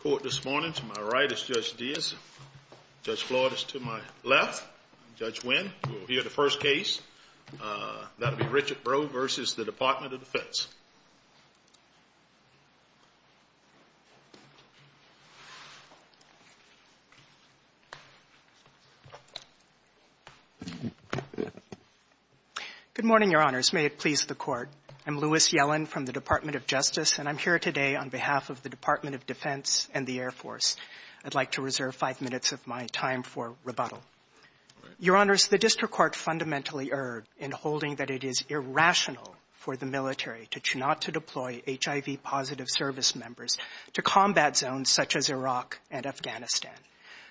Court this morning. To my right is Judge Diaz. Judge Floyd is to my left. Judge Nguyen, who will hear the first case. That will be Richard Roe v. Department of Defense. Good morning, Your Honors. May it please the Court. I'm Louis Yellen from the Department of Justice, and I'm here today on behalf of the Department of Defense and the Air Force. I'd like to reserve five minutes of my time for rebuttal. Your Honors, the district court fundamentally erred in holding that it is irrational for the military to choose not to deploy HIV-positive service members to combat zones such as Iraq and Afghanistan.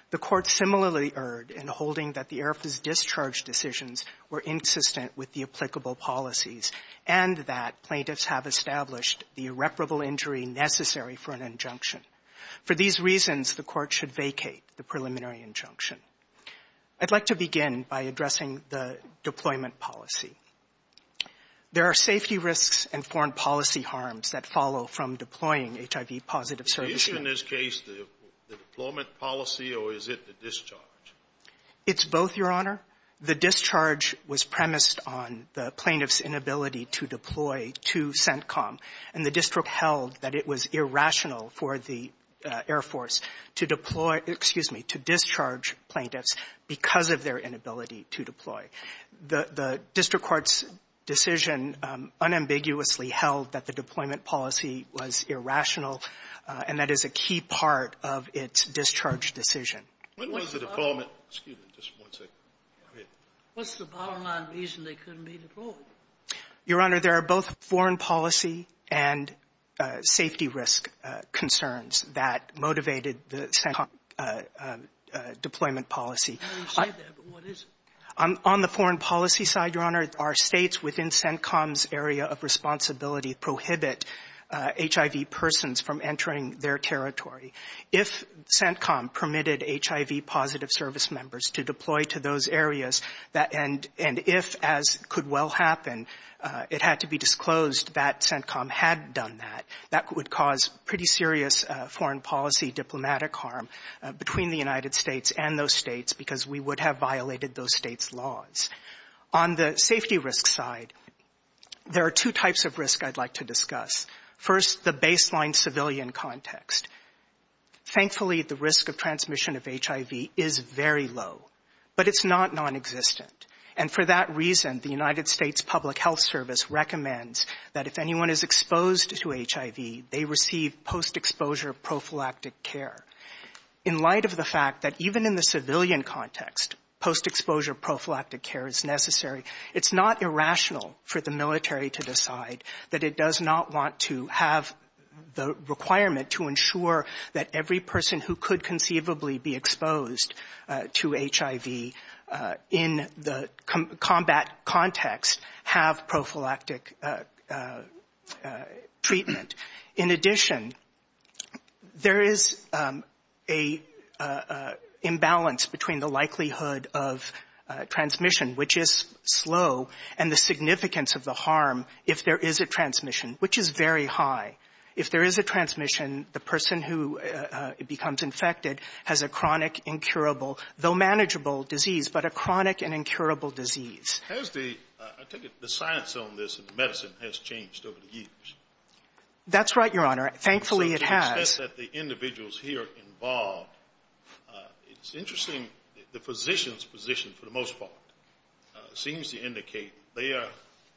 The court similarly erred in holding that the Air Force's discharge decisions were insistent with the applicable policies and that plaintiffs have established the irreparable injury necessary for an injunction. For these reasons, the court should vacate the preliminary injunction. I'd like to begin by addressing the deployment policy. There are safety risks and foreign policy harms that follow from deploying HIV-positive services. Is in this case the deployment policy, or is it the discharge? It's both, Your Honor. The discharge was premised on the plaintiff's inability to deploy to CENTCOM, and the district held that it was irrational to deploy, excuse me, to discharge plaintiffs because of their inability to deploy. The district court's decision unambiguously held that the deployment policy was irrational, and that is a key part of its discharge decision. When was the deployment? Excuse me just one second. Go ahead. What's the bottom line reason they couldn't be deployed? Your Honor, there are both foreign policy and safety risk concerns that motivated the CENTCOM deployment policy. Now you say that, but what is it? On the foreign policy side, Your Honor, our States within CENTCOM's area of responsibility prohibit HIV persons from entering their territory. If CENTCOM permitted HIV-positive service members to deploy to those areas, and if, as could well happen, it had to be disclosed that CENTCOM had done that, that would cause pretty serious foreign policy diplomatic harm between the United States and those States, because we would have violated those States' laws. On the safety risk side, there are two types of risk I'd like to discuss. First, the baseline civilian context. Thankfully, the risk of transmission of HIV is very low, but it's not nonexistent. And for that reason, the United States Public Health Service recommends that if anyone is exposed to HIV, they receive post-exposure prophylactic care. In light of the fact that even in the civilian context, post-exposure prophylactic care is necessary, it's not irrational for the military to decide that it does not want to have the requirement to ensure that every person who could conceivably be exposed to HIV in the combat context have prophylactic treatment. In addition, there is an imbalance between the likelihood of transmission, which is slow, and the significance of the harm if there is a transmission, which is very high. If there is a transmission, the person who becomes infected has a chronic, incurable, though manageable, disease, but a chronic and incurable disease. Has the — I take it the science on this and the medicine has changed over the years. That's right, Your Honor. Thankfully, it has. So to the extent that the individuals here are involved, it's interesting the physician's position, for the most part, seems to indicate they are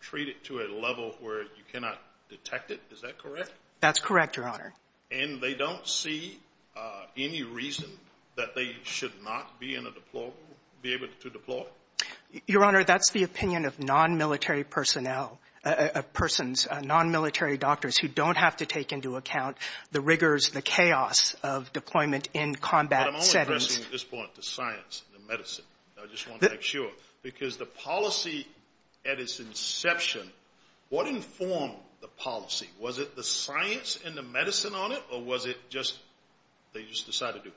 treated to a level where you cannot detect it. Is that correct? That's correct, Your Honor. And they don't see any reason that they should not be in a deployable, be able to deploy? Your Honor, that's the opinion of nonmilitary personnel, of persons, nonmilitary doctors who don't have to take into account the rigors, the chaos of deployment in combat settings. But I'm only addressing at this point the science and the medicine. I just want to make sure. Because the policy at its inception, what informed the policy? Was it the science and the medicine on it, or was it just they just decided to?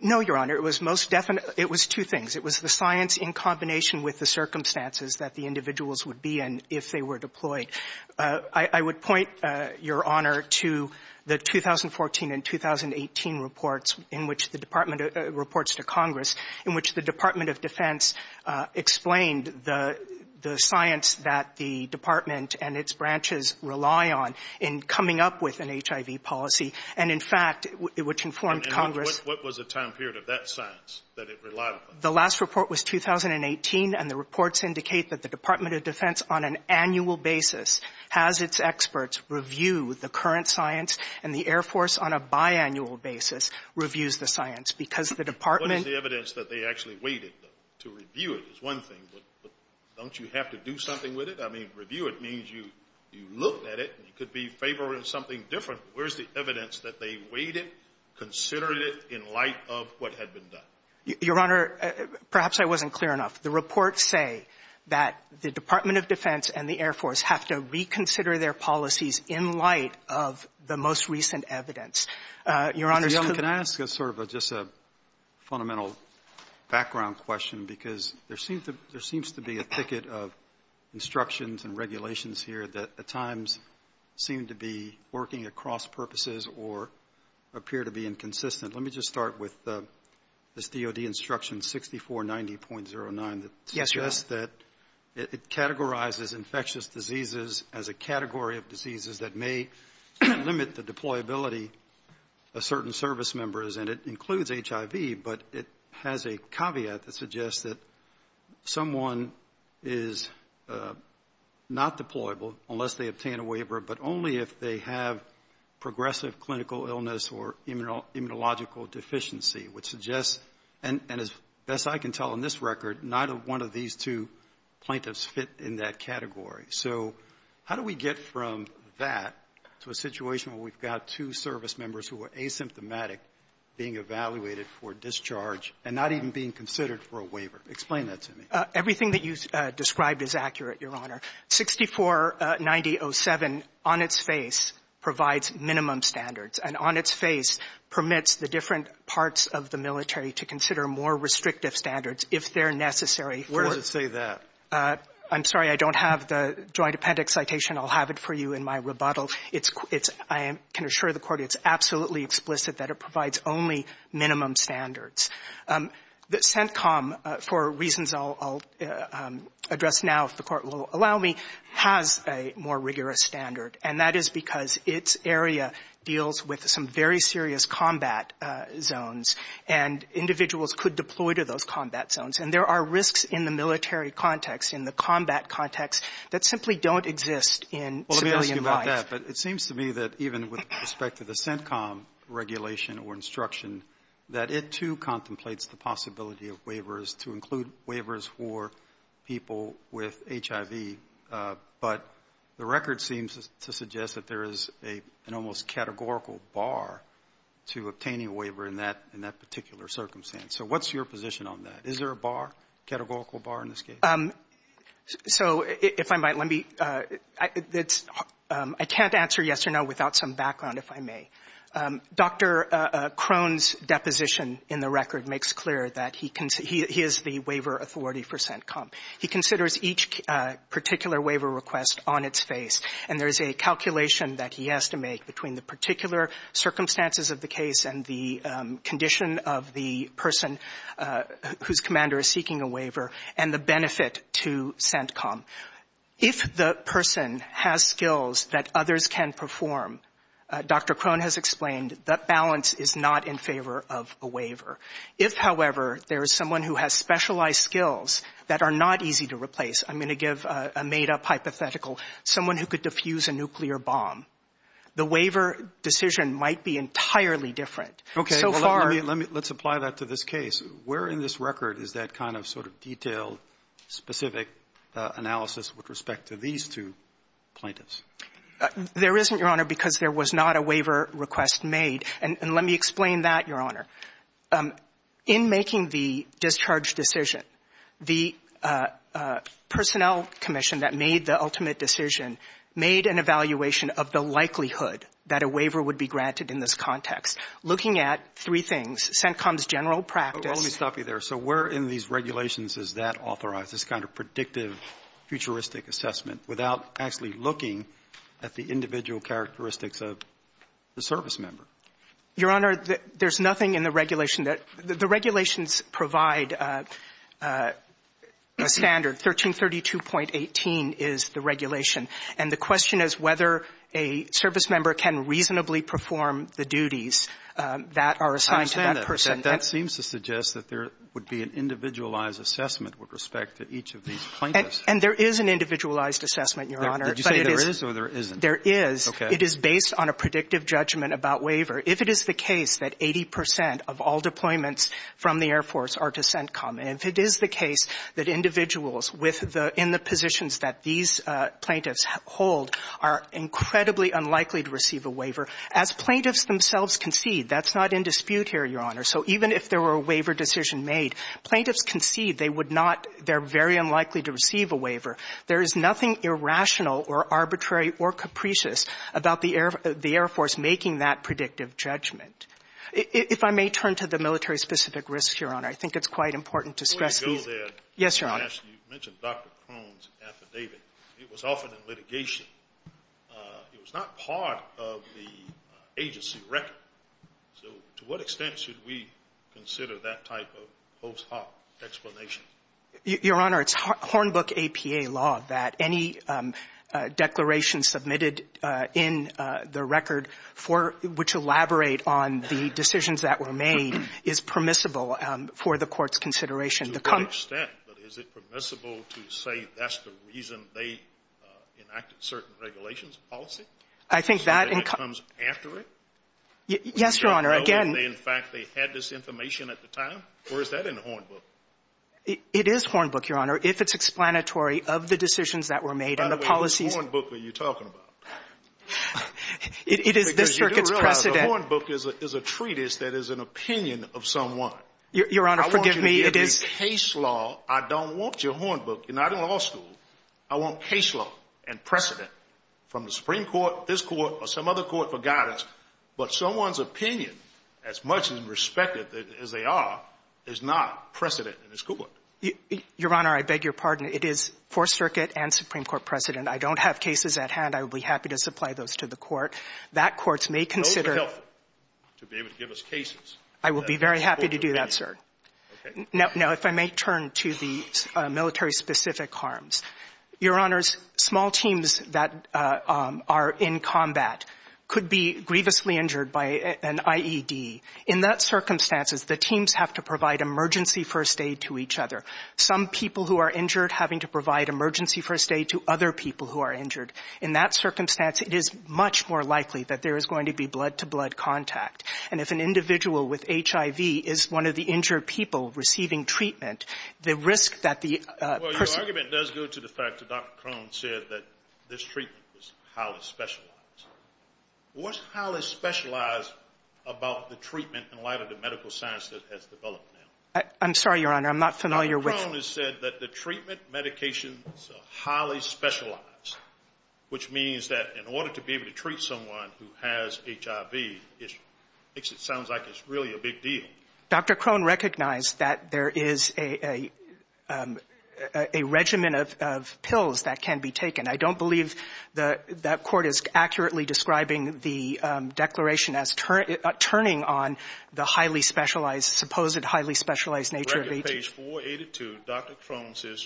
No, Your Honor. It was most definite — it was two things. It was the science in combination with the circumstances that the individuals would be in if they were deployed. I would point, Your Honor, to the 2014 and 2018 reports in which the Department of — reports to Congress in which the Department of Defense explained the science that the Department and its branches rely on in coming up with an HIV policy, and, in fact, which informed Congress. And what was the time period of that science that it relied on? The last report was 2018, and the reports indicate that the Department of Defense on an annual basis has its experts review the current science, and the Air Force on a biannual basis reviews the science, because the Department — What is the evidence that they actually waited, though, to review it, is one thing. But don't you have to do something with it? I mean, review it means you looked at it, and you could be favoring something different. Where's the evidence that they waited, considered it in light of what had been done? Your Honor, perhaps I wasn't clear enough. The reports say that the Department of Defense and the Air Force have to reconsider their policies in light of the most recent evidence. Your Honor— Your Honor, can I ask sort of just a fundamental background question? Because there seems to be a ticket of instructions and regulations here that, at times, seem to be working at cross-purposes or appear to be inconsistent. Let me just start with this DOD instruction 6490.09. Yes, Your Honor. It says that it categorizes infectious diseases as a category of diseases that may limit the deployability of certain service members, and it includes HIV, but it has a caveat that suggests that someone is not deployable unless they obtain a waiver, but only if they have progressive clinical illness or immunological deficiency, which suggests, and as best I can tell in this record, neither one of these two plaintiffs fit in that category. So how do we get from that to a situation where we've got two service members who are asymptomatic being evaluated for discharge and not even being considered for a waiver? Explain that to me. Everything that you described is accurate, Your Honor. 6490.07 on its face provides minimum standards, and on its face permits the different parts of the military to consider more restrictive standards if they're necessary. Where does it say that? I'm sorry. I don't have the Joint Appendix citation. I'll have it for you in my rebuttal. It's — I can assure the Court it's absolutely explicit that it provides only minimum standards. The CENTCOM, for reasons I'll address now, if the Court will allow me, has a more rigorous standard, and that is because its area deals with some very serious combat zones, and individuals could deploy to those combat zones. And there are risks in the military context, in the combat context, that simply don't exist in civilian life. Well, let me ask you about that. But it seems to me that even with respect to the possibility of waivers, to include waivers for people with HIV, but the record seems to suggest that there is an almost categorical bar to obtaining a waiver in that particular circumstance. So what's your position on that? Is there a bar, categorical bar in this case? So if I might, let me — I can't answer yes or no without some background, if I may. Dr. Crone's deposition in the record makes clear that he is the waiver authority for CENTCOM. He considers each particular waiver request on its face, and there is a calculation that he has to make between the particular circumstances of the case and the condition of the person whose commander is seeking a waiver and the benefit to CENTCOM. If the person has skills that others can perform, Dr. Crone has explained, that balance is not in favor of a waiver. If, however, there is someone who has specialized skills that are not easy to replace, I'm going to give a made-up hypothetical, someone who could diffuse a nuclear bomb, the waiver decision might be entirely different. Okay. Well, let me — let's apply that to this case. Where in this record is that kind of sort of detailed, specific analysis with respect to these two plaintiffs? There isn't, Your Honor, because there was not a waiver request made. And let me explain that, Your Honor. In making the discharge decision, the Personnel Commission that made the ultimate decision made an evaluation of the likelihood that a waiver would be granted in this context. Looking at three things, CENTCOM's general practice — Well, let me stop you there. So where in these regulations is that authorized, this kind of predictive, futuristic assessment, without actually looking at the individual characteristics of the servicemember? Your Honor, there's nothing in the regulation that — the regulations provide a standard, 1332.18 is the regulation. And the question is whether a servicemember can reasonably perform the duties that are assigned to that person. I understand that. And that seems to suggest that there would be an individualized assessment with respect to each of these plaintiffs. And there is an individualized assessment, Your Honor. Did you say there is or there isn't? There is. Okay. It is based on a predictive judgment about waiver. If it is the case that 80 percent of all deployments from the Air Force are to CENTCOM, and if it is the case that individuals with the — in the positions that these plaintiffs hold are incredibly unlikely to receive a waiver, as plaintiffs themselves concede — that's not in dispute here, Your Honor — so even if there were a waiver decision made, plaintiffs concede they would not — they're very unlikely to receive a waiver. There is nothing irrational or arbitrary or capricious about the Air — the Air Force making that predictive judgment. If I may turn to the military-specific risks, Your Honor, I think it's quite important Before you go there — Yes, Your Honor. — you mentioned Dr. Crone's affidavit. It was offered in litigation. It was not part of the agency record. So to what extent should we consider that type of post hoc explanation? Your Honor, it's Hornbook APA law that any declaration submitted in the record for — which elaborate on the decisions that were made is permissible for the Court's consideration. To what extent? But is it permissible to say that's the reason they enacted certain regulations and policy? I think that — So that comes after it? Yes, Your Honor. Again — In fact, they had this information at the time? Or is that in the Hornbook? It is Hornbook, Your Honor, if it's explanatory of the decisions that were made and the policies — By the way, what Hornbook are you talking about? It is this circuit's precedent — Because you do realize the Hornbook is a treatise that is an opinion of someone. Your Honor, forgive me. If it's case law, I don't want your Hornbook. You're not in law school. I want case law and precedent from the Supreme Court, this Court, or some other court for guidance. But someone's opinion, as much as respected as they are, is not precedent in this court. Your Honor, I beg your pardon. It is Fourth Circuit and Supreme Court precedent. I don't have cases at hand. I would be happy to supply those to the Court. That Court may consider — Those are helpful to be able to give us cases. I will be very happy to do that, sir. Now, if I may turn to the military-specific harms. Your Honors, small teams that are in combat could be grievously injured by an IED. In that circumstance, the teams have to provide emergency first aid to each other. Some people who are injured having to provide emergency first aid to other people who are injured. In that circumstance, it is much more likely that there is going to be blood-to- I'm sorry, Your Honor. I'm not familiar with — Dr. Crone has said that the treatment medications are highly specialized, which means that in order to be able to treat someone who has HIV, it makes it sound like it's really a big deal. like it's really a big deal. There is a regimen of pills that can be taken. I don't believe that that Court is accurately describing the declaration as turning on the highly specialized — supposed highly specialized nature of HIV. Page 482, Dr. Crone says,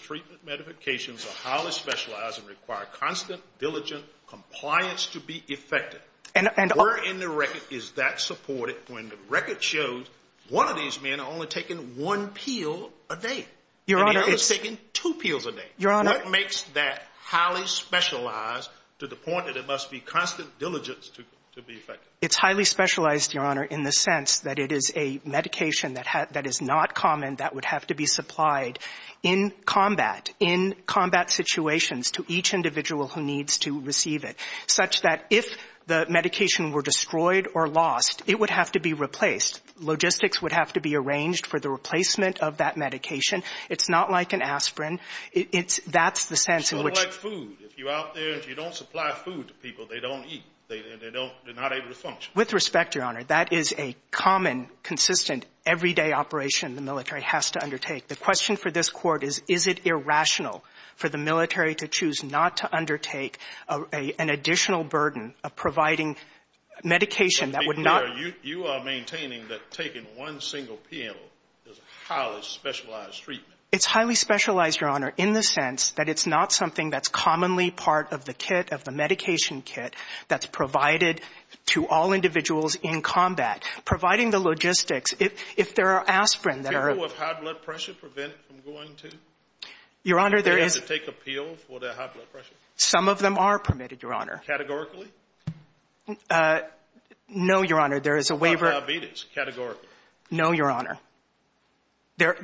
And — Where in the record is that supported when the record shows one of these men only has taken one pill a day. Your Honor — And the other has taken two pills a day. Your Honor — What makes that highly specialized to the point that it must be constant diligence to be effective? It's highly specialized, Your Honor, in the sense that it is a medication that is not common that would have to be supplied in combat, in combat situations to each individual who needs to receive it, such that if the medication were destroyed or lost, it would have to be replaced. Logistics would have to be arranged for the replacement of that medication. It's not like an aspirin. It's — that's the sense in which — It's sort of like food. If you're out there and you don't supply food to people, they don't eat. They don't — they're not able to function. With respect, Your Honor, that is a common, consistent, everyday operation the military has to undertake. The question for this Court is, is it irrational for the military to choose not to undertake an additional burden of providing medication that would not — Your Honor, you are maintaining that taking one single pill is a highly specialized treatment. It's highly specialized, Your Honor, in the sense that it's not something that's commonly part of the kit, of the medication kit that's provided to all individuals in combat. Providing the logistics, if there are aspirin that are — Do people with high blood pressure prevent from going to? Your Honor, there is — Do they have to take a pill for their high blood pressure? Some of them are permitted, Your Honor. Categorically? No, Your Honor. There is a waiver — How about diabetes, categorically? No, Your Honor. There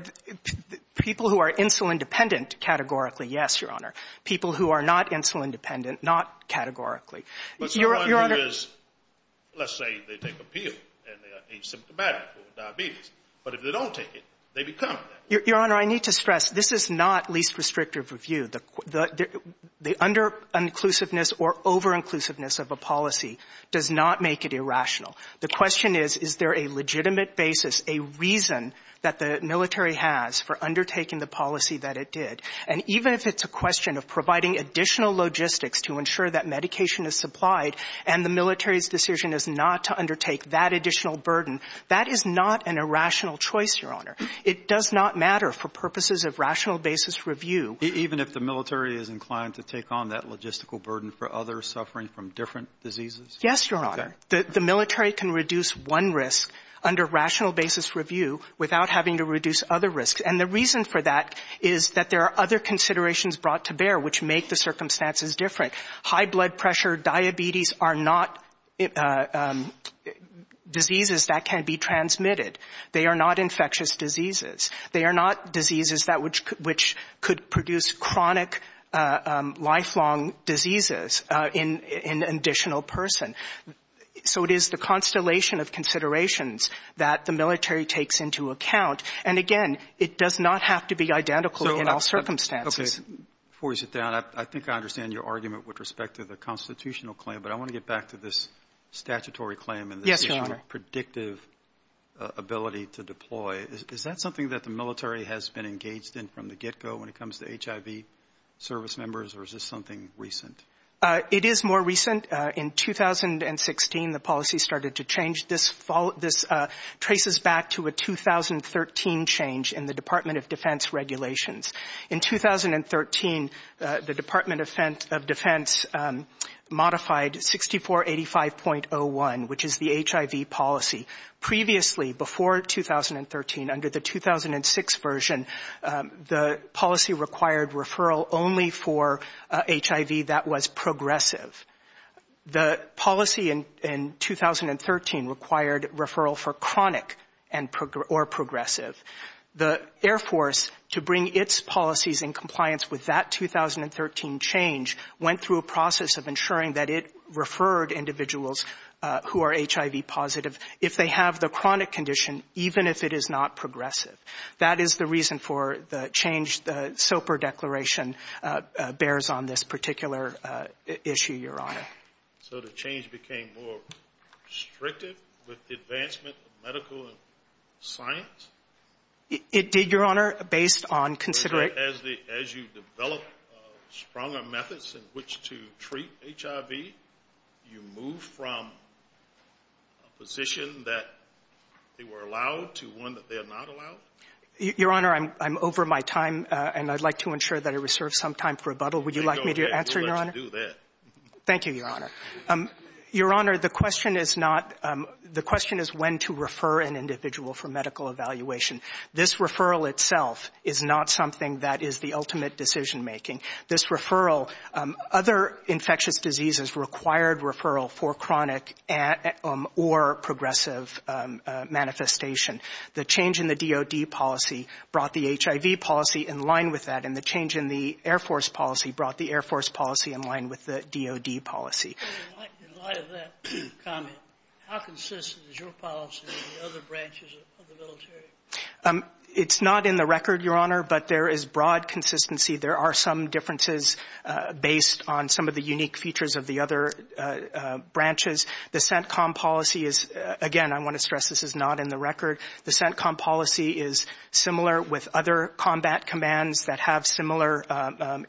— people who are insulin-dependent, categorically, yes, Your Honor. People who are not insulin-dependent, not categorically. Your Honor — But someone who is — let's say they take a pill and they are asymptomatic for diabetes. But if they don't take it, they become diabetic. Your Honor, I need to stress, this is not least restrictive review. The under-inclusiveness or over-inclusiveness of a policy does not make it irrational. The question is, is there a legitimate basis, a reason that the military has for undertaking the policy that it did? And even if it's a question of providing additional logistics to ensure that medication is supplied and the military's decision is not to undertake that additional burden, that is not an irrational choice, Your Honor. It does not matter for purposes of rational basis review. Even if the military is inclined to take on that logistical burden for others suffering from different diseases? Yes, Your Honor. The military can reduce one risk under rational basis review without having to reduce other risks. And the reason for that is that there are other considerations brought to bear which make the circumstances different. High blood pressure, diabetes are not diseases that can be transmitted. They are not infectious diseases. They are not diseases that which could produce chronic lifelong diseases in an additional person. So it is the constellation of considerations that the military takes into account. And again, it does not have to be identical in all circumstances. Okay. Before you sit down, I think I understand your argument with respect to the constitutional claim. But I want to get back to this statutory claim and this issue of predictive ability to deploy. Is that something that the military has been engaged in from the get-go when it comes to HIV service members, or is this something recent? It is more recent. In 2016, the policy started to change. This traces back to a 2013 change in the Department of Defense regulations. In 2013, the Department of Defense modified 6485.01, which is the HIV policy. Previously, before 2013, under the 2006 version, the policy required referral only for HIV that was progressive. The policy in 2013 required referral for chronic or progressive. The Air Force, to bring its policies in compliance with that 2013 change, went through a process of ensuring that it referred individuals who are HIV positive if they have the chronic condition, even if it is not progressive. That is the reason for the change the SOPR declaration bears on this particular issue, Your Honor. So the change became more restrictive with the advancement of medical and science? It did, Your Honor, based on considerate — in which to treat HIV. You move from a position that they were allowed to one that they are not allowed? Your Honor, I'm over my time, and I'd like to ensure that I reserve some time for rebuttal. Would you like me to answer, Your Honor? Let's do that. Thank you, Your Honor. Your Honor, the question is not — the question is when to refer an individual for medical evaluation. This referral itself is not something that is the ultimate decision-making. This referral — other infectious diseases required referral for chronic or progressive manifestation. The change in the DOD policy brought the HIV policy in line with that, and the change in the Air Force policy brought the Air Force policy in line with the DOD policy. In light of that comment, how consistent is your policy with the other branches of the military? It's not in the record, Your Honor, but there is broad consistency. There are some differences based on some of the unique features of the other branches. The CENTCOM policy is — again, I want to stress this is not in the record. The CENTCOM policy is similar with other combat commands that have similar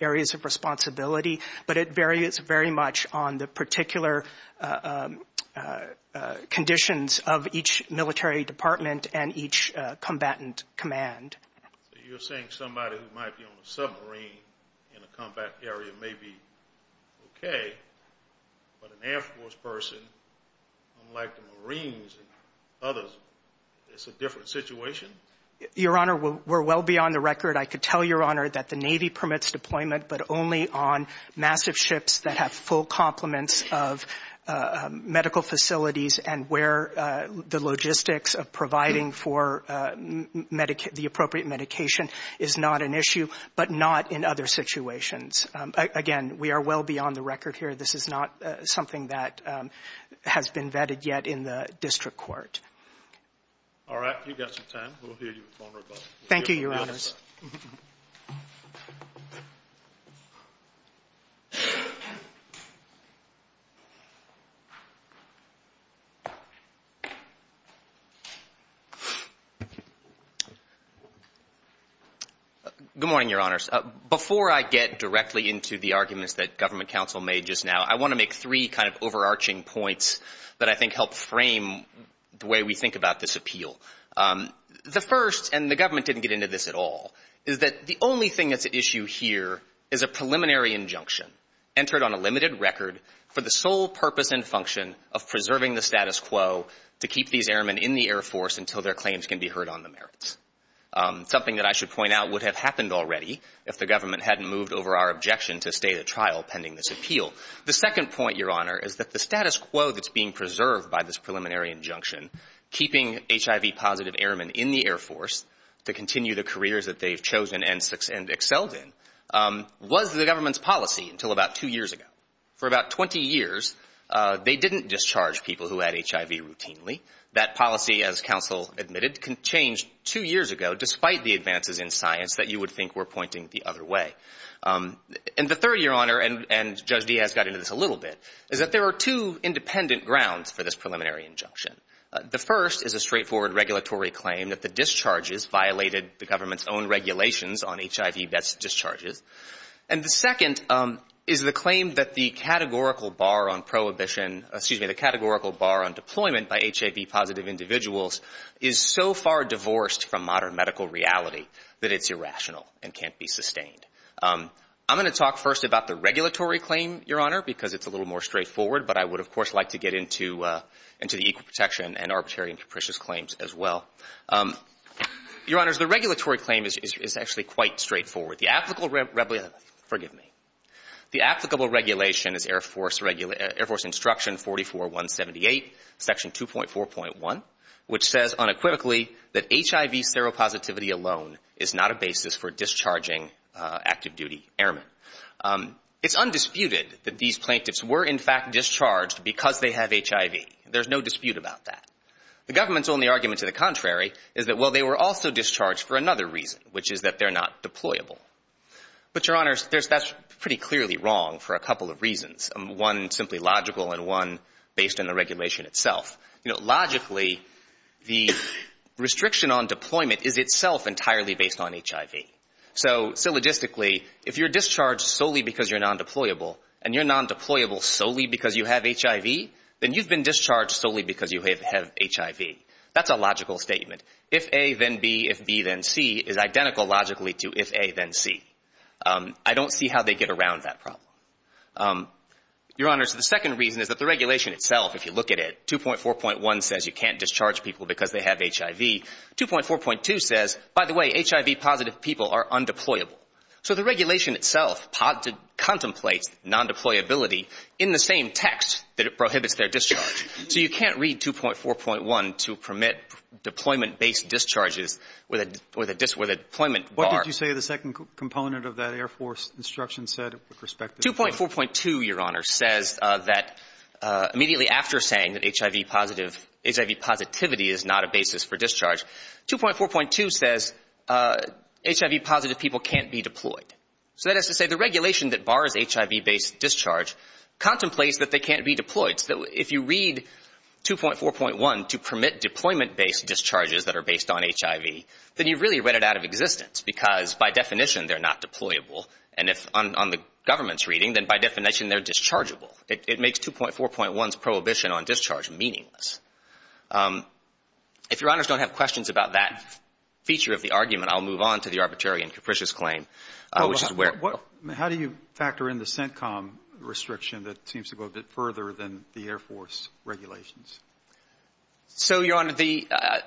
areas of responsibility, but it varies very much on the particular conditions of each military department and each combatant command. So you're saying somebody who might be on a submarine in a combat area may be okay, but an Air Force person, unlike the Marines and others, it's a different situation? Your Honor, we're well beyond the record. I could tell Your Honor that the Navy permits deployment, but only on massive ships that have full complements of medical facilities and where the logistics of providing for the appropriate medication is not an issue, but not in other situations. Again, we are well beyond the record here. This is not something that has been vetted yet in the district court. All right. You've got some time. We'll hear you, Your Honor. Thank you, Your Honors. Good morning, Your Honors. Before I get directly into the arguments that Government Counsel made just now, I want to make three kind of overarching points that I think help frame the way we think about this appeal. The first, and the Government didn't get into this at all, is that the only thing that's at issue here is a preliminary injunction entered on a limited record for the sole purpose and function of preserving the status quo to keep these airmen in the Air Force until their claims can be heard on the merits, something that I should point out would have happened already if the Government hadn't moved over our objection to stay at trial pending this appeal. The second point, Your Honor, is that the status quo that's being preserved by this preliminary injunction, keeping HIV-positive airmen in the Air Force to continue the careers that they've chosen and excelled in, was the Government's policy until about two years ago. For about 20 years, they didn't discharge people who had HIV routinely. That policy, as Counsel admitted, changed two years ago despite the advances in science that you would think were pointing the other way. And the third, Your Honor, and Judge Diaz got into this a little bit, is that there are two independent grounds for this preliminary injunction. The first is a straightforward regulatory claim that the discharges violated the Government's own regulations on HIV-best discharges. And the second is the claim that the categorical bar on prohibition, excuse me, the categorical bar on deployment by HIV-positive individuals is so far divorced from modern medical reality that it's irrational and can't be sustained. I'm going to talk first about the regulatory claim, Your Honor, because it's a straightforward, but I would, of course, like to get into the equal protection and arbitrary and capricious claims as well. Your Honors, the regulatory claim is actually quite straightforward. The applicable regulation is Air Force Instruction 44178, Section 2.4.1, which says unequivocally that HIV seropositivity alone is not a basis for discharging active-duty airmen. It's undisputed that these plaintiffs were in fact discharged because they have HIV. There's no dispute about that. The Government's only argument to the contrary is that, well, they were also discharged for another reason, which is that they're not deployable. But, Your Honors, that's pretty clearly wrong for a couple of reasons, one simply logical and one based on the regulation itself. Logically, the restriction on deployment is itself entirely based on HIV. So, logistically, if you're discharged solely because you're non-deployable and you're non-deployable solely because you have HIV, then you've been discharged solely because you have HIV. That's a logical statement. If A, then B. If B, then C is identical logically to if A, then C. I don't see how they get around that problem. Your Honors, the second reason is that the regulation itself, if you look at it, 2.4.1 says you can't discharge people because they have HIV. 2.4.2 says, by the way, HIV-positive people are undeployable. So the regulation itself contemplates non-deployability in the same text that it prohibits their discharge. So you can't read 2.4.1 to permit deployment-based discharges with a deployment bar. What did you say the second component of that Air Force instruction said with respect to this? 2.4.2, Your Honors, says that immediately after saying that HIV positivity is not a basis for discharge, 2.4.2 says HIV-positive people can't be deployed. So that is to say the regulation that bars HIV-based discharge contemplates that they can't be deployed. So if you read 2.4.1 to permit deployment-based discharges that are based on HIV, then you've really read it out of existence because, by definition, they're not deployable. And if on the government's reading, then by definition they're dischargeable. It makes 2.4.1's prohibition on discharge meaningless. If Your Honors don't have questions about that feature of the argument, I'll move on to the arbitrary and capricious claim, which is where ---- How do you factor in the CENTCOM restriction that seems to go a bit further than the Air Force regulations? So, Your Honor, the ----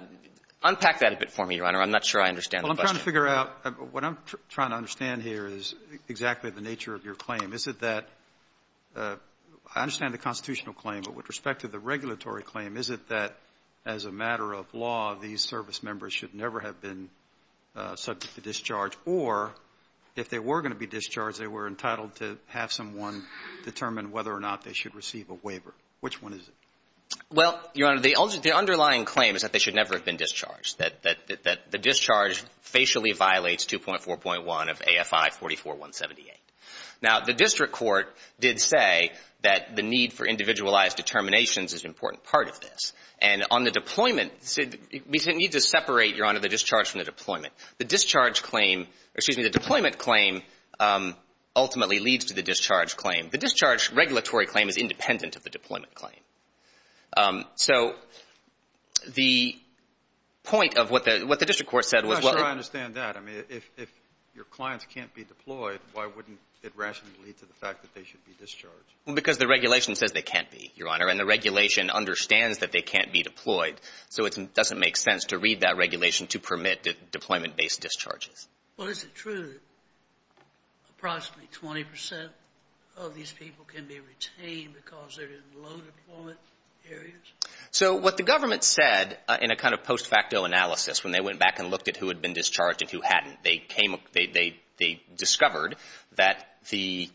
unpack that a bit for me, Your Honor. I'm not sure I understand the question. Well, I'm trying to figure out what I'm trying to understand here is exactly the nature of your claim. Is it that ---- I understand the constitutional claim, but with respect to the regulatory claim, is it that as a matter of law these service members should never have been subject to discharge, or if they were going to be discharged, they were entitled to have someone determine whether or not they should receive a waiver? Which one is it? Well, Your Honor, the underlying claim is that they should never have been discharged, that the discharge facially violates 2.4.1 of AFI 44178. Now, the district court did say that the need for individualized determinations is an important part of this. And on the deployment, we need to separate, Your Honor, the discharge from the deployment. The discharge claim ---- excuse me, the deployment claim ultimately leads to the discharge claim. The discharge regulatory claim is independent of the deployment claim. So the point of what the district court said was ---- I'm not sure I understand that. I mean, if your clients can't be deployed, why wouldn't it rationally lead to the fact that they should be discharged? Well, because the regulation says they can't be, Your Honor, and the regulation understands that they can't be deployed. So it doesn't make sense to read that regulation to permit deployment-based discharges. Well, is it true that approximately 20 percent of these people can be retained because they're in low-deployment areas? So what the government said in a kind of post-facto analysis when they went back and looked at who had been discharged and who hadn't, they discovered that the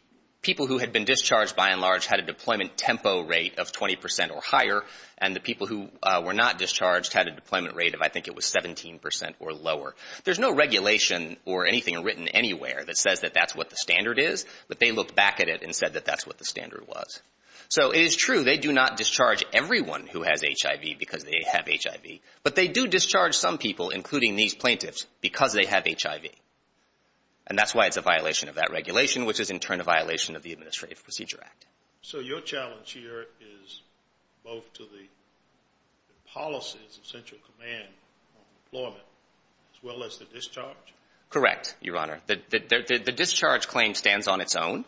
people who had been discharged, by and large, had a deployment tempo rate of 20 percent or higher, and the people who were not discharged had a deployment rate of, I think it was, 17 percent or lower. There's no regulation or anything written anywhere that says that that's what the standard is, but they looked back at it and said that that's what the standard was. So it is true they do not discharge everyone who has HIV because they have HIV, but they do discharge some people, including these plaintiffs, because they have HIV. And that's why it's a violation of that regulation, which is in turn a violation of the Administrative Procedure Act. So your challenge here is both to the policies of Central Command on deployment as well as the discharge? Correct, Your Honor. The discharge claim stands on its own.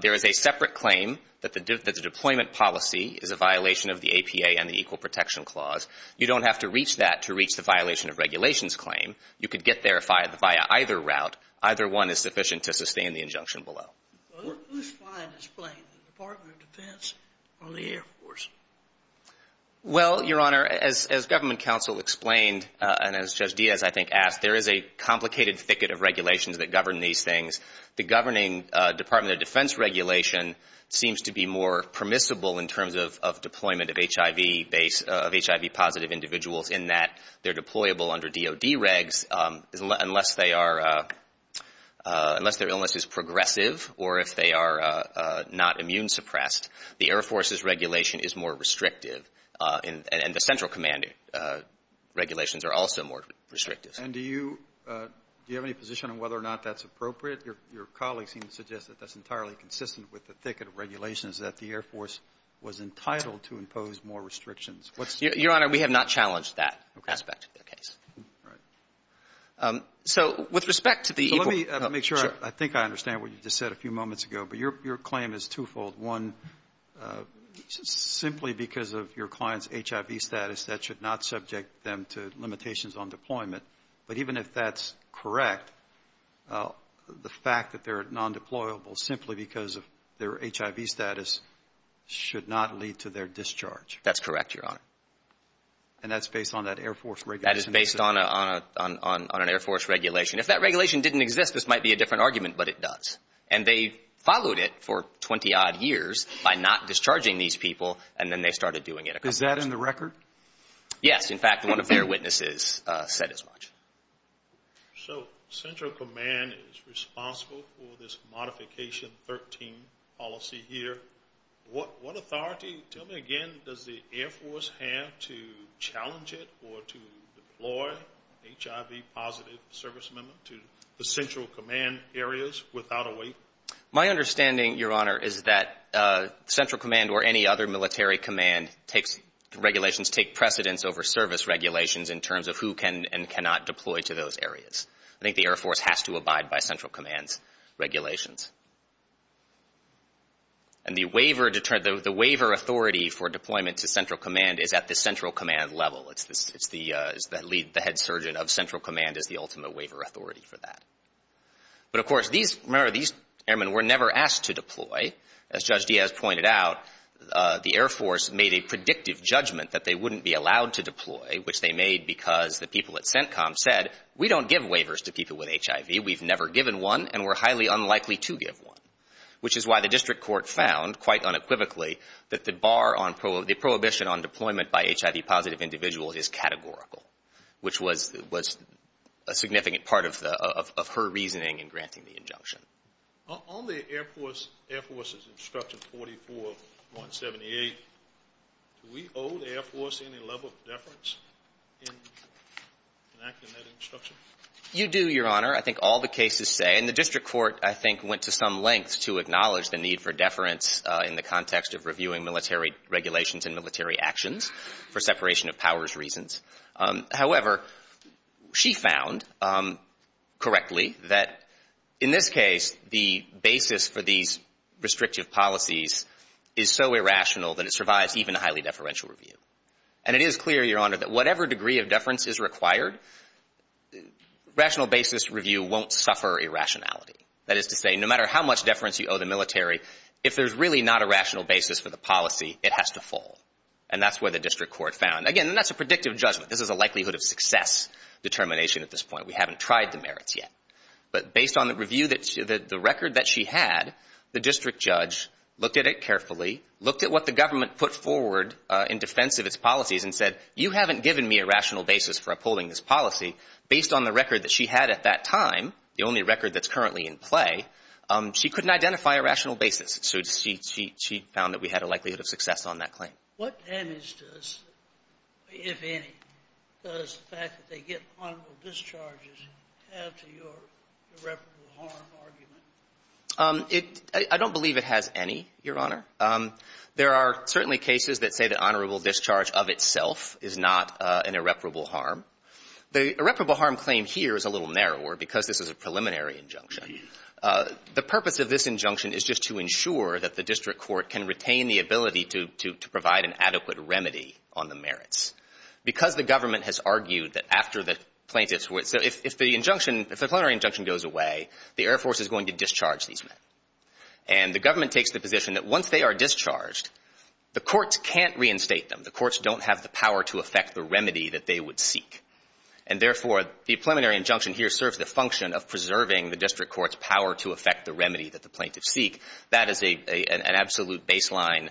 There is a separate claim that the deployment policy is a violation of the APA and the Equal Protection Clause. You don't have to reach that to reach the violation of regulations claim. You could get there via either route. Either one is sufficient to sustain the injunction below. Who's flying this plane, the Department of Defense or the Air Force? Well, Your Honor, as Government Counsel explained and as Judge Diaz, I think, asked, there is a complicated thicket of regulations that govern these things. The governing Department of Defense regulation seems to be more permissible in terms of deployment of HIV-positive individuals in that they're deployable under DOD regs unless their illness is progressive or if they are not immune-suppressed. The Air Force's regulation is more restrictive, and the Central Command regulations are also more restrictive. And do you have any position on whether or not that's appropriate? Your colleagues seem to suggest that that's entirely consistent with the thicket of regulations that the Air Force was entitled to impose more restrictions. Your Honor, we have not challenged that aspect of the case. Okay. All right. So with respect to the equal – So let me make sure I think I understand what you just said a few moments ago. But your claim is twofold. One, simply because of your client's HIV status, that should not subject them to limitations on deployment. But even if that's correct, the fact that they're non-deployable simply because of their HIV status should not lead to their discharge. That's correct, Your Honor. And that's based on that Air Force regulation? That is based on an Air Force regulation. If that regulation didn't exist, this might be a different argument, but it does. And they followed it for 20-odd years by not discharging these people, and then they started doing it. Is that in the record? Yes. In fact, one of their witnesses said as much. So Central Command is responsible for this Modification 13 policy here. What authority, tell me again, does the Air Force have to challenge it or to deploy HIV-positive service members to the Central Command areas without a wait? My understanding, Your Honor, is that Central Command or any other military command regulations take precedence over service regulations in terms of who can and cannot deploy to those areas. I think the Air Force has to abide by Central Command's regulations. And the waiver authority for deployment to Central Command is at the Central Command level. The head surgeon of Central Command is the ultimate waiver authority for that. But, of course, remember, these airmen were never asked to deploy. As Judge Diaz pointed out, the Air Force made a predictive judgment that they wouldn't be allowed to deploy, which they made because the people at CENTCOM said, We don't give waivers to people with HIV. We've never given one, and we're highly unlikely to give one, which is why the district court found, quite unequivocally, that the prohibition on deployment by HIV-positive individuals is categorical, which was a significant part of her reasoning in granting the injunction. On the Air Force's instruction 44-178, do we owe the Air Force any level of deference in enacting that instruction? You do, Your Honor. I think all the cases say, and the district court, I think, went to some length to acknowledge the need for deference in the context of reviewing military regulations and military actions for separation of powers reasons. However, she found correctly that, in this case, the basis for these restrictive policies is so irrational that it survives even a highly deferential review. And it is clear, Your Honor, that whatever degree of deference is required, rational basis review won't suffer irrationality. That is to say, no matter how much deference you owe the military, if there's really not a rational basis for the policy, it has to fall. And that's where the district court found. Again, and that's a predictive judgment. This is a likelihood of success determination at this point. We haven't tried the merits yet. But based on the review that the record that she had, the district judge looked at it carefully, looked at what the government put forward in defense of its policies and said, you haven't given me a rational basis for upholding this policy. Based on the record that she had at that time, the only record that's currently in play, she couldn't identify a rational basis. So she found that we had a likelihood of success on that claim. What damage does, if any, does the fact that they get honorable discharges have to your irreparable harm argument? I don't believe it has any, Your Honor. There are certainly cases that say that honorable discharge of itself is not an irreparable harm. The irreparable harm claim here is a little narrower because this is a preliminary injunction. The purpose of this injunction is just to ensure that the district court can retain the ability to provide an adequate remedy on the merits. Because the government has argued that after the plaintiffs were ‑‑ so if the injunction, if the preliminary injunction goes away, the Air Force is going to discharge these men. And the government takes the position that once they are discharged, the courts can't reinstate them. The courts don't have the power to effect the remedy that they would seek. And, therefore, the preliminary injunction here serves the function of preserving the district court's power to effect the remedy that the plaintiffs seek. That is an absolute baseline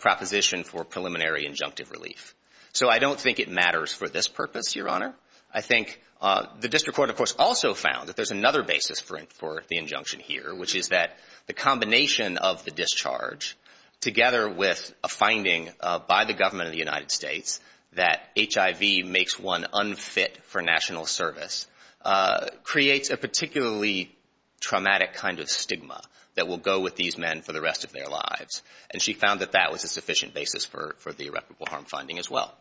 proposition for preliminary injunctive relief. So I don't think it matters for this purpose, Your Honor. I think the district court, of course, also found that there's another basis for the injunction here, which is that the combination of the discharge together with a finding by the government of the United States that HIV makes one unfit for national service creates a particularly traumatic kind of stigma that will go with these men for the rest of their lives. And she found that that was a sufficient basis for the irreparable harm finding as well.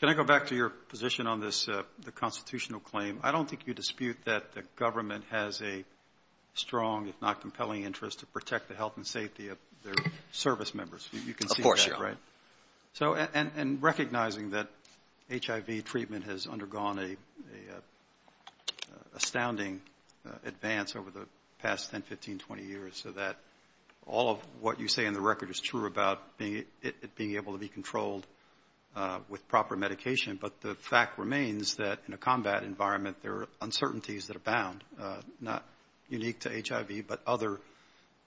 Can I go back to your position on this constitutional claim? I don't think you dispute that the government has a strong, if not compelling, interest to protect the health and safety of their service members. Of course, Your Honor. Right. And recognizing that HIV treatment has undergone an astounding advance over the past 10, 15, 20 years so that all of what you say in the record is true about it being able to be controlled with proper medication, but the fact remains that in a combat environment there are uncertainties that abound, not unique to HIV but other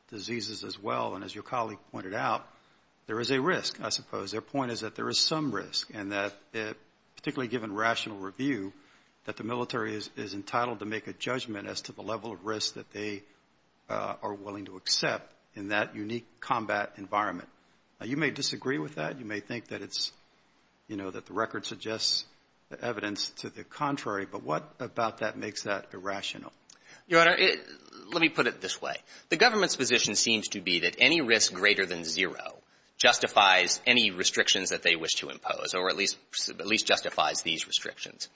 diseases as well. And as your colleague pointed out, there is a risk, I suppose. Their point is that there is some risk and that particularly given rational review, that the military is entitled to make a judgment as to the level of risk that they are willing to accept in that unique combat environment. You may disagree with that. You may think that it's, you know, that the record suggests the evidence to the contrary. But what about that makes that irrational? Your Honor, let me put it this way. The government's position seems to be that any risk greater than zero justifies any restrictions that they wish to impose or at least justifies these restrictions.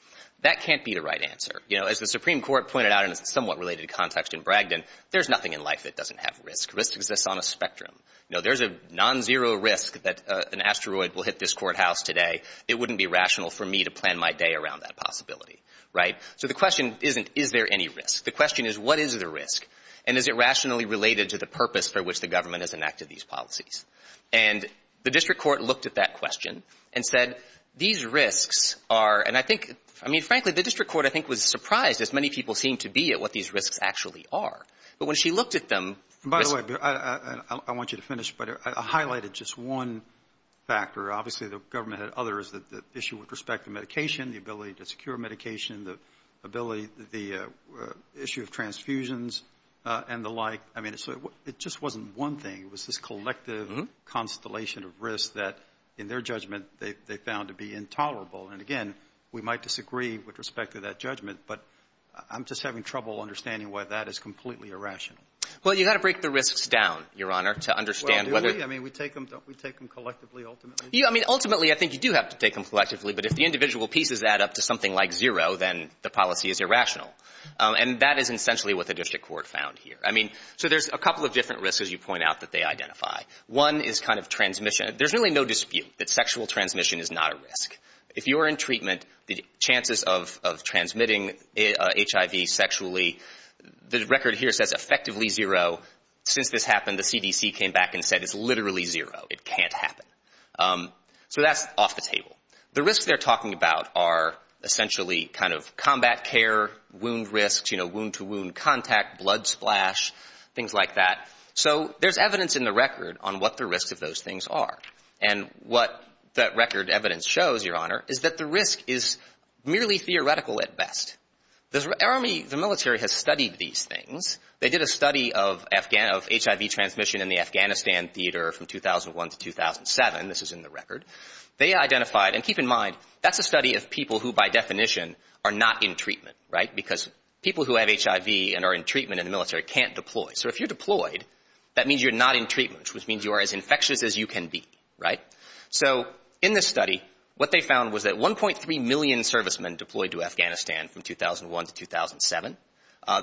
That can't be the right answer. You know, as the Supreme Court pointed out in a somewhat related context in Bragdon, there's nothing in life that doesn't have risk. Risk exists on a spectrum. You know, there's a non-zero risk that an asteroid will hit this courthouse today. It wouldn't be rational for me to plan my day around that possibility. Right? So the question isn't is there any risk? The question is what is the risk? And is it rationally related to the purpose for which the government has enacted these policies? And the district court looked at that question and said these risks are, and I think, I mean, frankly, the district court I think was surprised, as many people seem to be, at what these risks actually are. But when she looked at them. By the way, I want you to finish, but I highlighted just one factor. Obviously, the government had others, the issue with respect to medication, the ability to secure medication, the ability, the issue of transfusions and the like. I mean, it just wasn't one thing. It was this collective constellation of risks that, in their judgment, they found to be intolerable. And, again, we might disagree with respect to that judgment, but I'm just having trouble understanding why that is completely irrational. Well, you've got to break the risks down, Your Honor, to understand whether. Well, do we? I mean, don't we take them collectively ultimately? I mean, ultimately, I think you do have to take them collectively. But if the individual pieces add up to something like zero, then the policy is irrational. And that is essentially what the district court found here. I mean, so there's a couple of different risks, as you point out, that they identify. One is kind of transmission. There's really no dispute that sexual transmission is not a risk. If you are in treatment, the chances of transmitting HIV sexually, the record here says effectively zero. Since this happened, the CDC came back and said it's literally zero. It can't happen. So that's off the table. The risks they're talking about are essentially kind of combat care, wound risks, you know, wound-to-wound contact, blood splash, things like that. So there's evidence in the record on what the risks of those things are. And what that record evidence shows, Your Honor, is that the risk is merely theoretical at best. The military has studied these things. They did a study of HIV transmission in the Afghanistan theater from 2001 to 2007. This is in the record. They identified, and keep in mind, that's a study of people who by definition are not in treatment, right, because people who have HIV and are in treatment in the military can't deploy. So if you're deployed, that means you're not in treatment, which means you are as infectious as you can be, right? So in this study, what they found was that 1.3 million servicemen deployed to Afghanistan from 2001 to 2007.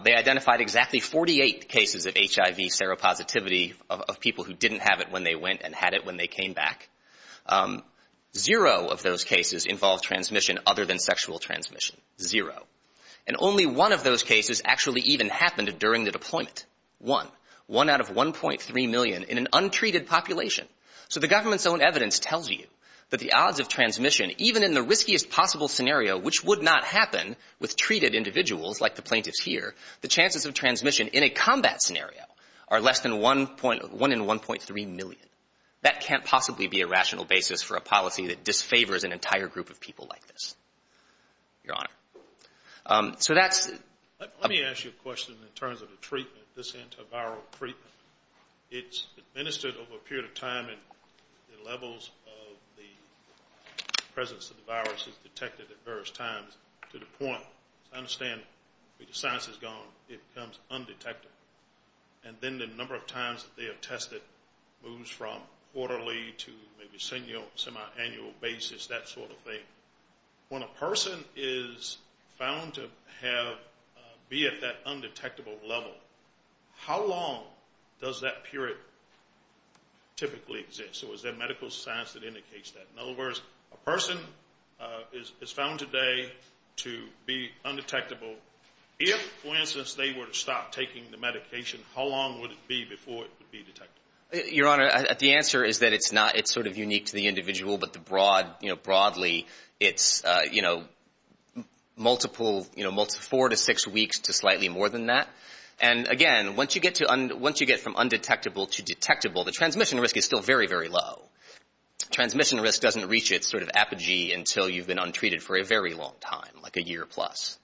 They identified exactly 48 cases of HIV seropositivity of people who didn't have it when they went and had it when they came back. Zero of those cases involved transmission other than sexual transmission. Zero. And only one of those cases actually even happened during the deployment. One. One out of 1.3 million in an untreated population. So the government's own evidence tells you that the odds of transmission, even in the riskiest possible scenario, which would not happen with treated individuals like the plaintiffs here, the chances of transmission in a combat scenario are less than 1 in 1.3 million. That can't possibly be a rational basis for a policy that disfavors an entire group of people like this. Your Honor. So that's. Let me ask you a question in terms of the treatment, this antiviral treatment. It's administered over a period of time and the levels of the presence of the virus is detected at various times to the point, as I understand it, where the science is gone, it becomes undetected. And then the number of times that they are tested moves from quarterly to maybe semi-annual basis, that sort of thing. When a person is found to be at that undetectable level, how long does that period typically exist? So is there medical science that indicates that? In other words, a person is found today to be undetectable. If, for instance, they were to stop taking the medication, how long would it be before it would be detected? Your Honor, the answer is that it's not. It's sort of unique to the individual, but broadly it's four to six weeks to slightly more than that. And, again, once you get from undetectable to detectable, the transmission risk is still very, very low. Transmission risk doesn't reach its sort of apogee until you've been untreated for a very long time, like a year plus.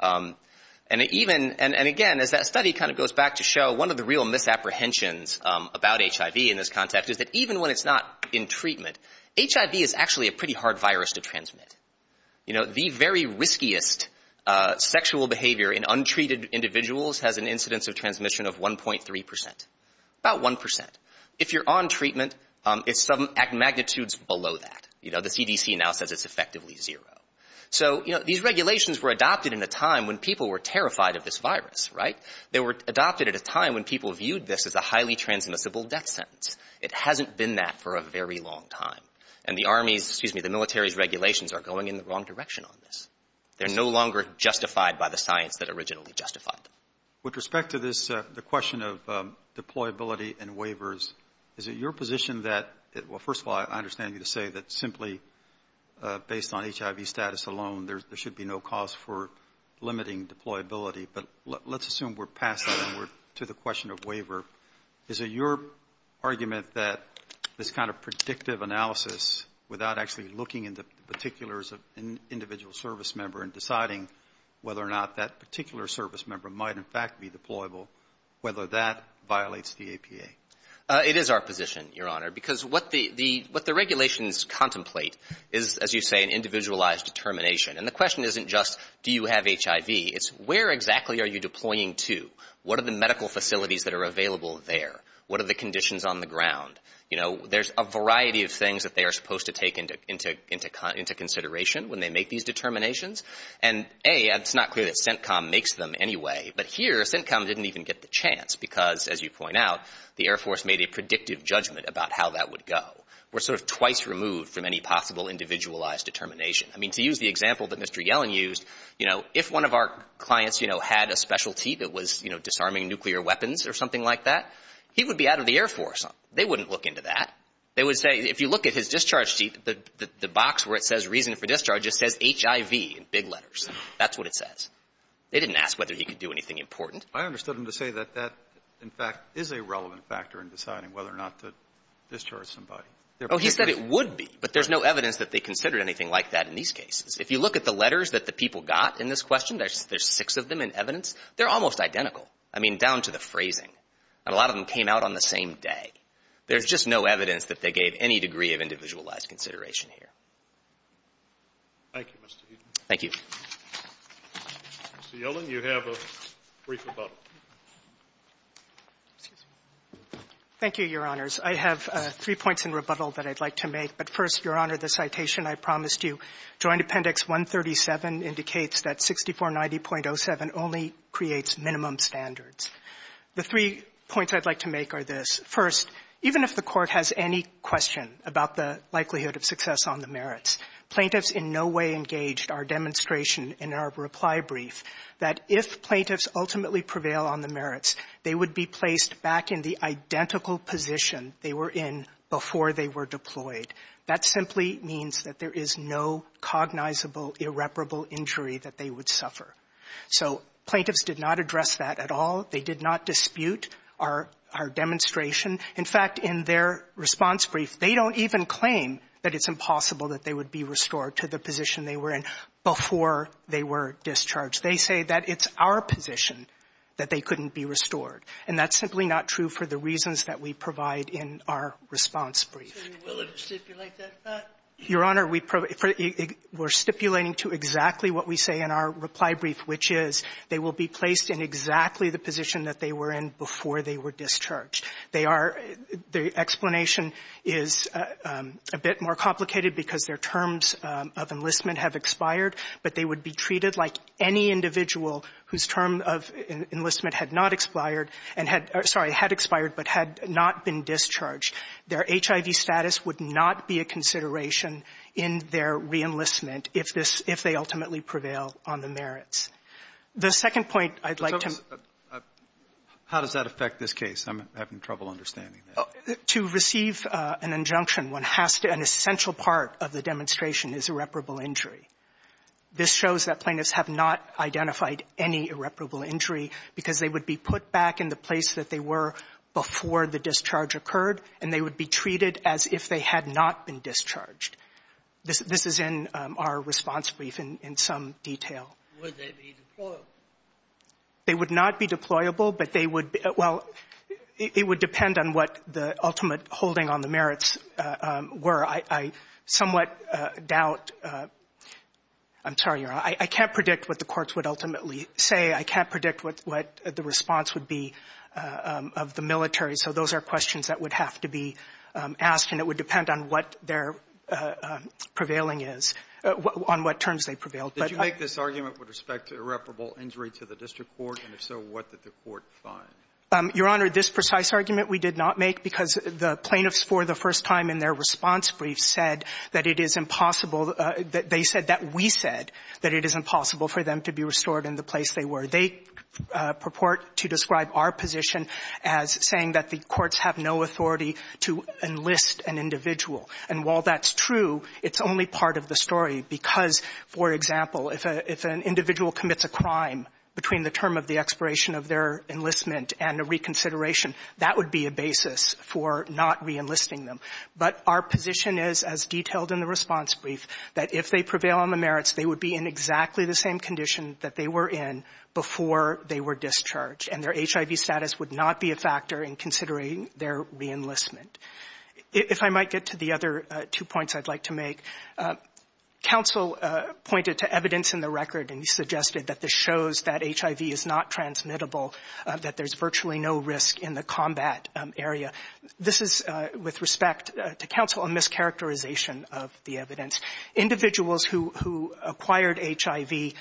And, again, as that study kind of goes back to show, one of the real misapprehensions about HIV in this context is that even when it's not in treatment, HIV is actually a pretty hard virus to transmit. The very riskiest sexual behavior in untreated individuals has an incidence of transmission of 1.3 percent, about 1 percent. If you're on treatment, it's some magnitudes below that. You know, the CDC now says it's effectively zero. So, you know, these regulations were adopted in a time when people were terrified of this virus, right? They were adopted at a time when people viewed this as a highly transmissible death sentence. It hasn't been that for a very long time. And the Army's, excuse me, the military's regulations are going in the wrong direction on this. They're no longer justified by the science that originally justified them. With respect to this, the question of deployability and waivers, is it your position that, well, first of all, I understand you to say that simply based on HIV status alone, there should be no cause for limiting deployability. But let's assume we're passing to the question of waiver. Is it your argument that this kind of predictive analysis without actually looking into particulars of an individual service member and deciding whether or not that particular service member might, in fact, be deployable, whether that violates the APA? It is our position, Your Honor, because what the regulations contemplate is, as you say, an individualized determination. And the question isn't just do you have HIV. It's where exactly are you deploying to? What are the medical facilities that are available there? What are the conditions on the ground? You know, there's a variety of things that they are supposed to take into consideration when they make these determinations. And, A, it's not clear that CENTCOM makes them anyway. But here CENTCOM didn't even get the chance because, as you point out, the Air Force made a predictive judgment about how that would go. We're sort of twice removed from any possible individualized determination. I mean, to use the example that Mr. Yellen used, you know, if one of our clients, you know, had a specialty that was, you know, disarming nuclear weapons or something like that, he would be out of the Air Force. They wouldn't look into that. They would say if you look at his discharge sheet, the box where it says reason for discharge, it says HIV in big letters. That's what it says. They didn't ask whether he could do anything important. I understood him to say that that, in fact, is a relevant factor in deciding whether or not to discharge somebody. Oh, he said it would be. But there's no evidence that they considered anything like that in these cases. If you look at the letters that the people got in this question, there's six of them in evidence. They're almost identical. I mean, down to the phrasing. And a lot of them came out on the same day. There's just no evidence that they gave any degree of individualized consideration here. Thank you, Mr. Eden. Thank you. Mr. Yellen, you have a brief rebuttal. Thank you, Your Honors. I have three points in rebuttal that I'd like to make. But first, Your Honor, the citation I promised you. Joint Appendix 137 indicates that 6490.07 only creates minimum standards. The three points I'd like to make are this. First, even if the Court has any question about the likelihood of success on the merits, plaintiffs in no way engaged our demonstration in our reply brief that if plaintiffs ultimately prevail on the merits, they would be placed back in the identical position they were in before they were deployed. That simply means that there is no cognizable irreparable injury that they would suffer. So plaintiffs did not address that at all. They did not dispute our demonstration. In fact, in their response brief, they don't even claim that it's impossible that they would be restored to the position they were in before they were discharged. They say that it's our position that they couldn't be restored. And that's simply not true for the reasons that we provide in our response brief. So you will have stipulated that? Your Honor, we're stipulating to exactly what we say in our reply brief, which is they will be placed in exactly the position that they were in before they were discharged. They are the explanation is a bit more complicated because their terms of enlistment have expired, but they would be treated like any individual whose term of enlistment had not expired and had or sorry, had expired but had not been discharged. Their HIV status would not be a consideration in their reenlistment if this if they ultimately prevail on the merits. The second point I'd like to — How does that affect this case? I'm having trouble understanding that. To receive an injunction, one has to — an essential part of the demonstration is irreparable injury. This shows that plaintiffs have not identified any irreparable injury because they would be put back in the place that they were before the discharge occurred, and they would be treated as if they had not been discharged. This is in our response brief in some detail. Would they be deployable? They would not be deployable, but they would — well, it would depend on what the ultimate holding on the merits were. I somewhat doubt — I'm sorry, Your Honor. I can't predict what the courts would ultimately say. I can't predict what the response would be of the military. So those are questions that would have to be asked, and it would depend on what their prevailing is — on what terms they prevailed. Did you make this argument with respect to irreparable injury to the district court? And if so, what did the court find? Your Honor, this precise argument we did not make because the plaintiffs, for the first time in their response brief, said that it is impossible — they said that we said that it is impossible for them to be restored in the place they were. They purport to describe our position as saying that the courts have no authority to enlist an individual. And while that's true, it's only part of the story because, for example, if an individual commits a crime between the term of the expiration of their enlistment and a reconsideration, that would be a basis for not reenlisting them. But our position is, as detailed in the response brief, that if they prevail on the merits, they would be in exactly the same condition that they were in before they were discharged, and their HIV status would not be a factor in considering their reenlistment. If I might get to the other two points I'd like to make, counsel pointed to evidence in the record, and he suggested that this shows that HIV is not transmittable, that there's virtually no risk in the combat area. This is, with respect to counsel, a mischaracterization of the evidence. Individuals who acquired HIV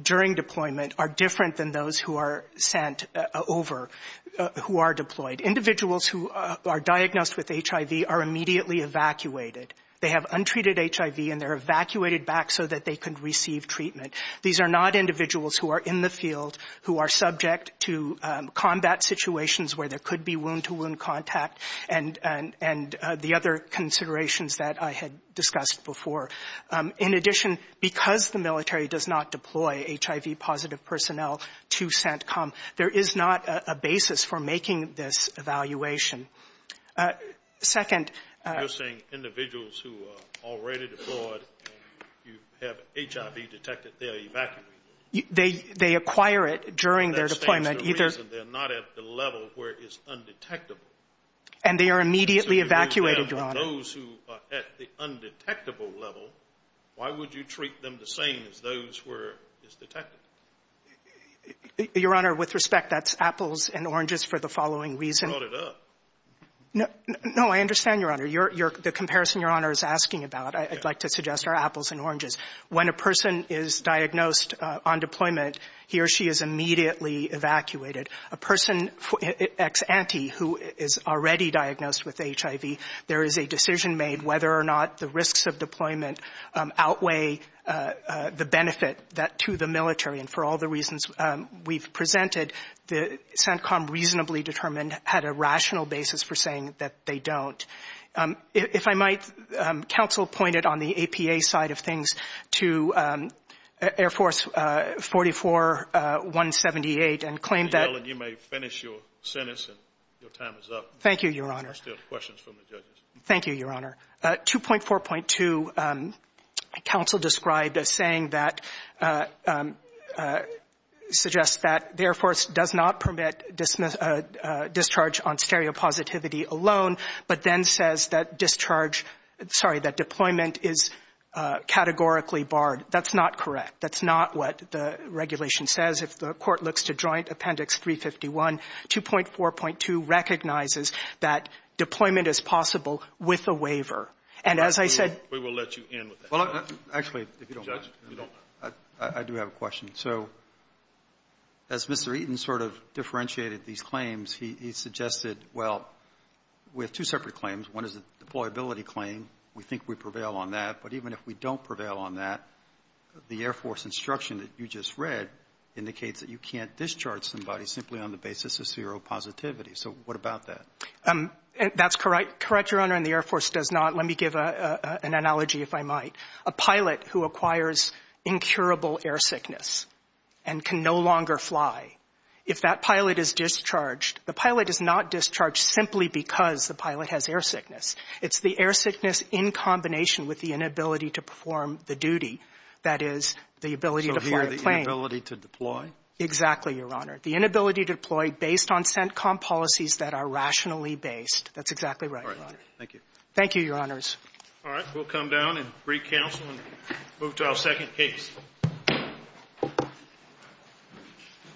during deployment are different than those who are sent over, who are deployed. Individuals who are diagnosed with HIV are immediately evacuated. They have untreated HIV, and they're evacuated back so that they can receive treatment. These are not individuals who are in the field, who are subject to combat situations where there could be wound-to-wound contact and the other considerations that I had discussed before. In addition, because the military does not deploy HIV-positive personnel to CENTCOM, there is not a basis for making this evaluation. Second ---- You're saying individuals who are already deployed and you have HIV detected, they are evacuated? They acquire it during their deployment. That stands to reason they're not at the level where it's undetectable. And they are immediately evacuated, Your Honor. Those who are at the undetectable level, why would you treat them the same as those who are undetectable? Your Honor, with respect, that's apples and oranges for the following reason. You brought it up. No, I understand, Your Honor. The comparison Your Honor is asking about, I'd like to suggest, are apples and oranges. When a person is diagnosed on deployment, he or she is immediately evacuated. A person ex-ante who is already diagnosed with HIV, there is a decision made whether or not the risks of deployment outweigh the benefit to the military. And for all the reasons we've presented, the CENTCOM reasonably determined had a rational basis for saying that they don't. If I might, counsel pointed on the APA side of things to Air Force 44-178 and claimed that ---- Thank you, Your Honor. Thank you, Your Honor. 2.4.2, counsel described as saying that ---- suggests that the Air Force does not permit discharge on stereopositivity alone, but then says that discharge ---- sorry, that deployment is categorically barred. That's not correct. That's not what the regulation says. If the Court looks to Joint Appendix 351, 2.4.2 recognizes that deployment is possible with a waiver. And as I said ---- We will let you end with that. Actually, if you don't mind, I do have a question. So as Mr. Eaton sort of differentiated these claims, he suggested, well, we have two separate claims. One is a deployability claim. We think we prevail on that. But even if we don't prevail on that, the Air Force instruction that you just read indicates that you have stereopositivity. So what about that? That's correct, Your Honor, and the Air Force does not. Let me give an analogy, if I might. A pilot who acquires incurable air sickness and can no longer fly, if that pilot is discharged, the pilot is not discharged simply because the pilot has air sickness. It's the air sickness in combination with the inability to perform the duty, that is, the ability to fly a plane. So here, the inability to deploy? Exactly, Your Honor. The inability to deploy based on CENTCOM policies that are rationally based. That's exactly right, Your Honor. All right. Thank you. Thank you, Your Honors. All right. We'll come down and recounsel and move to our second case.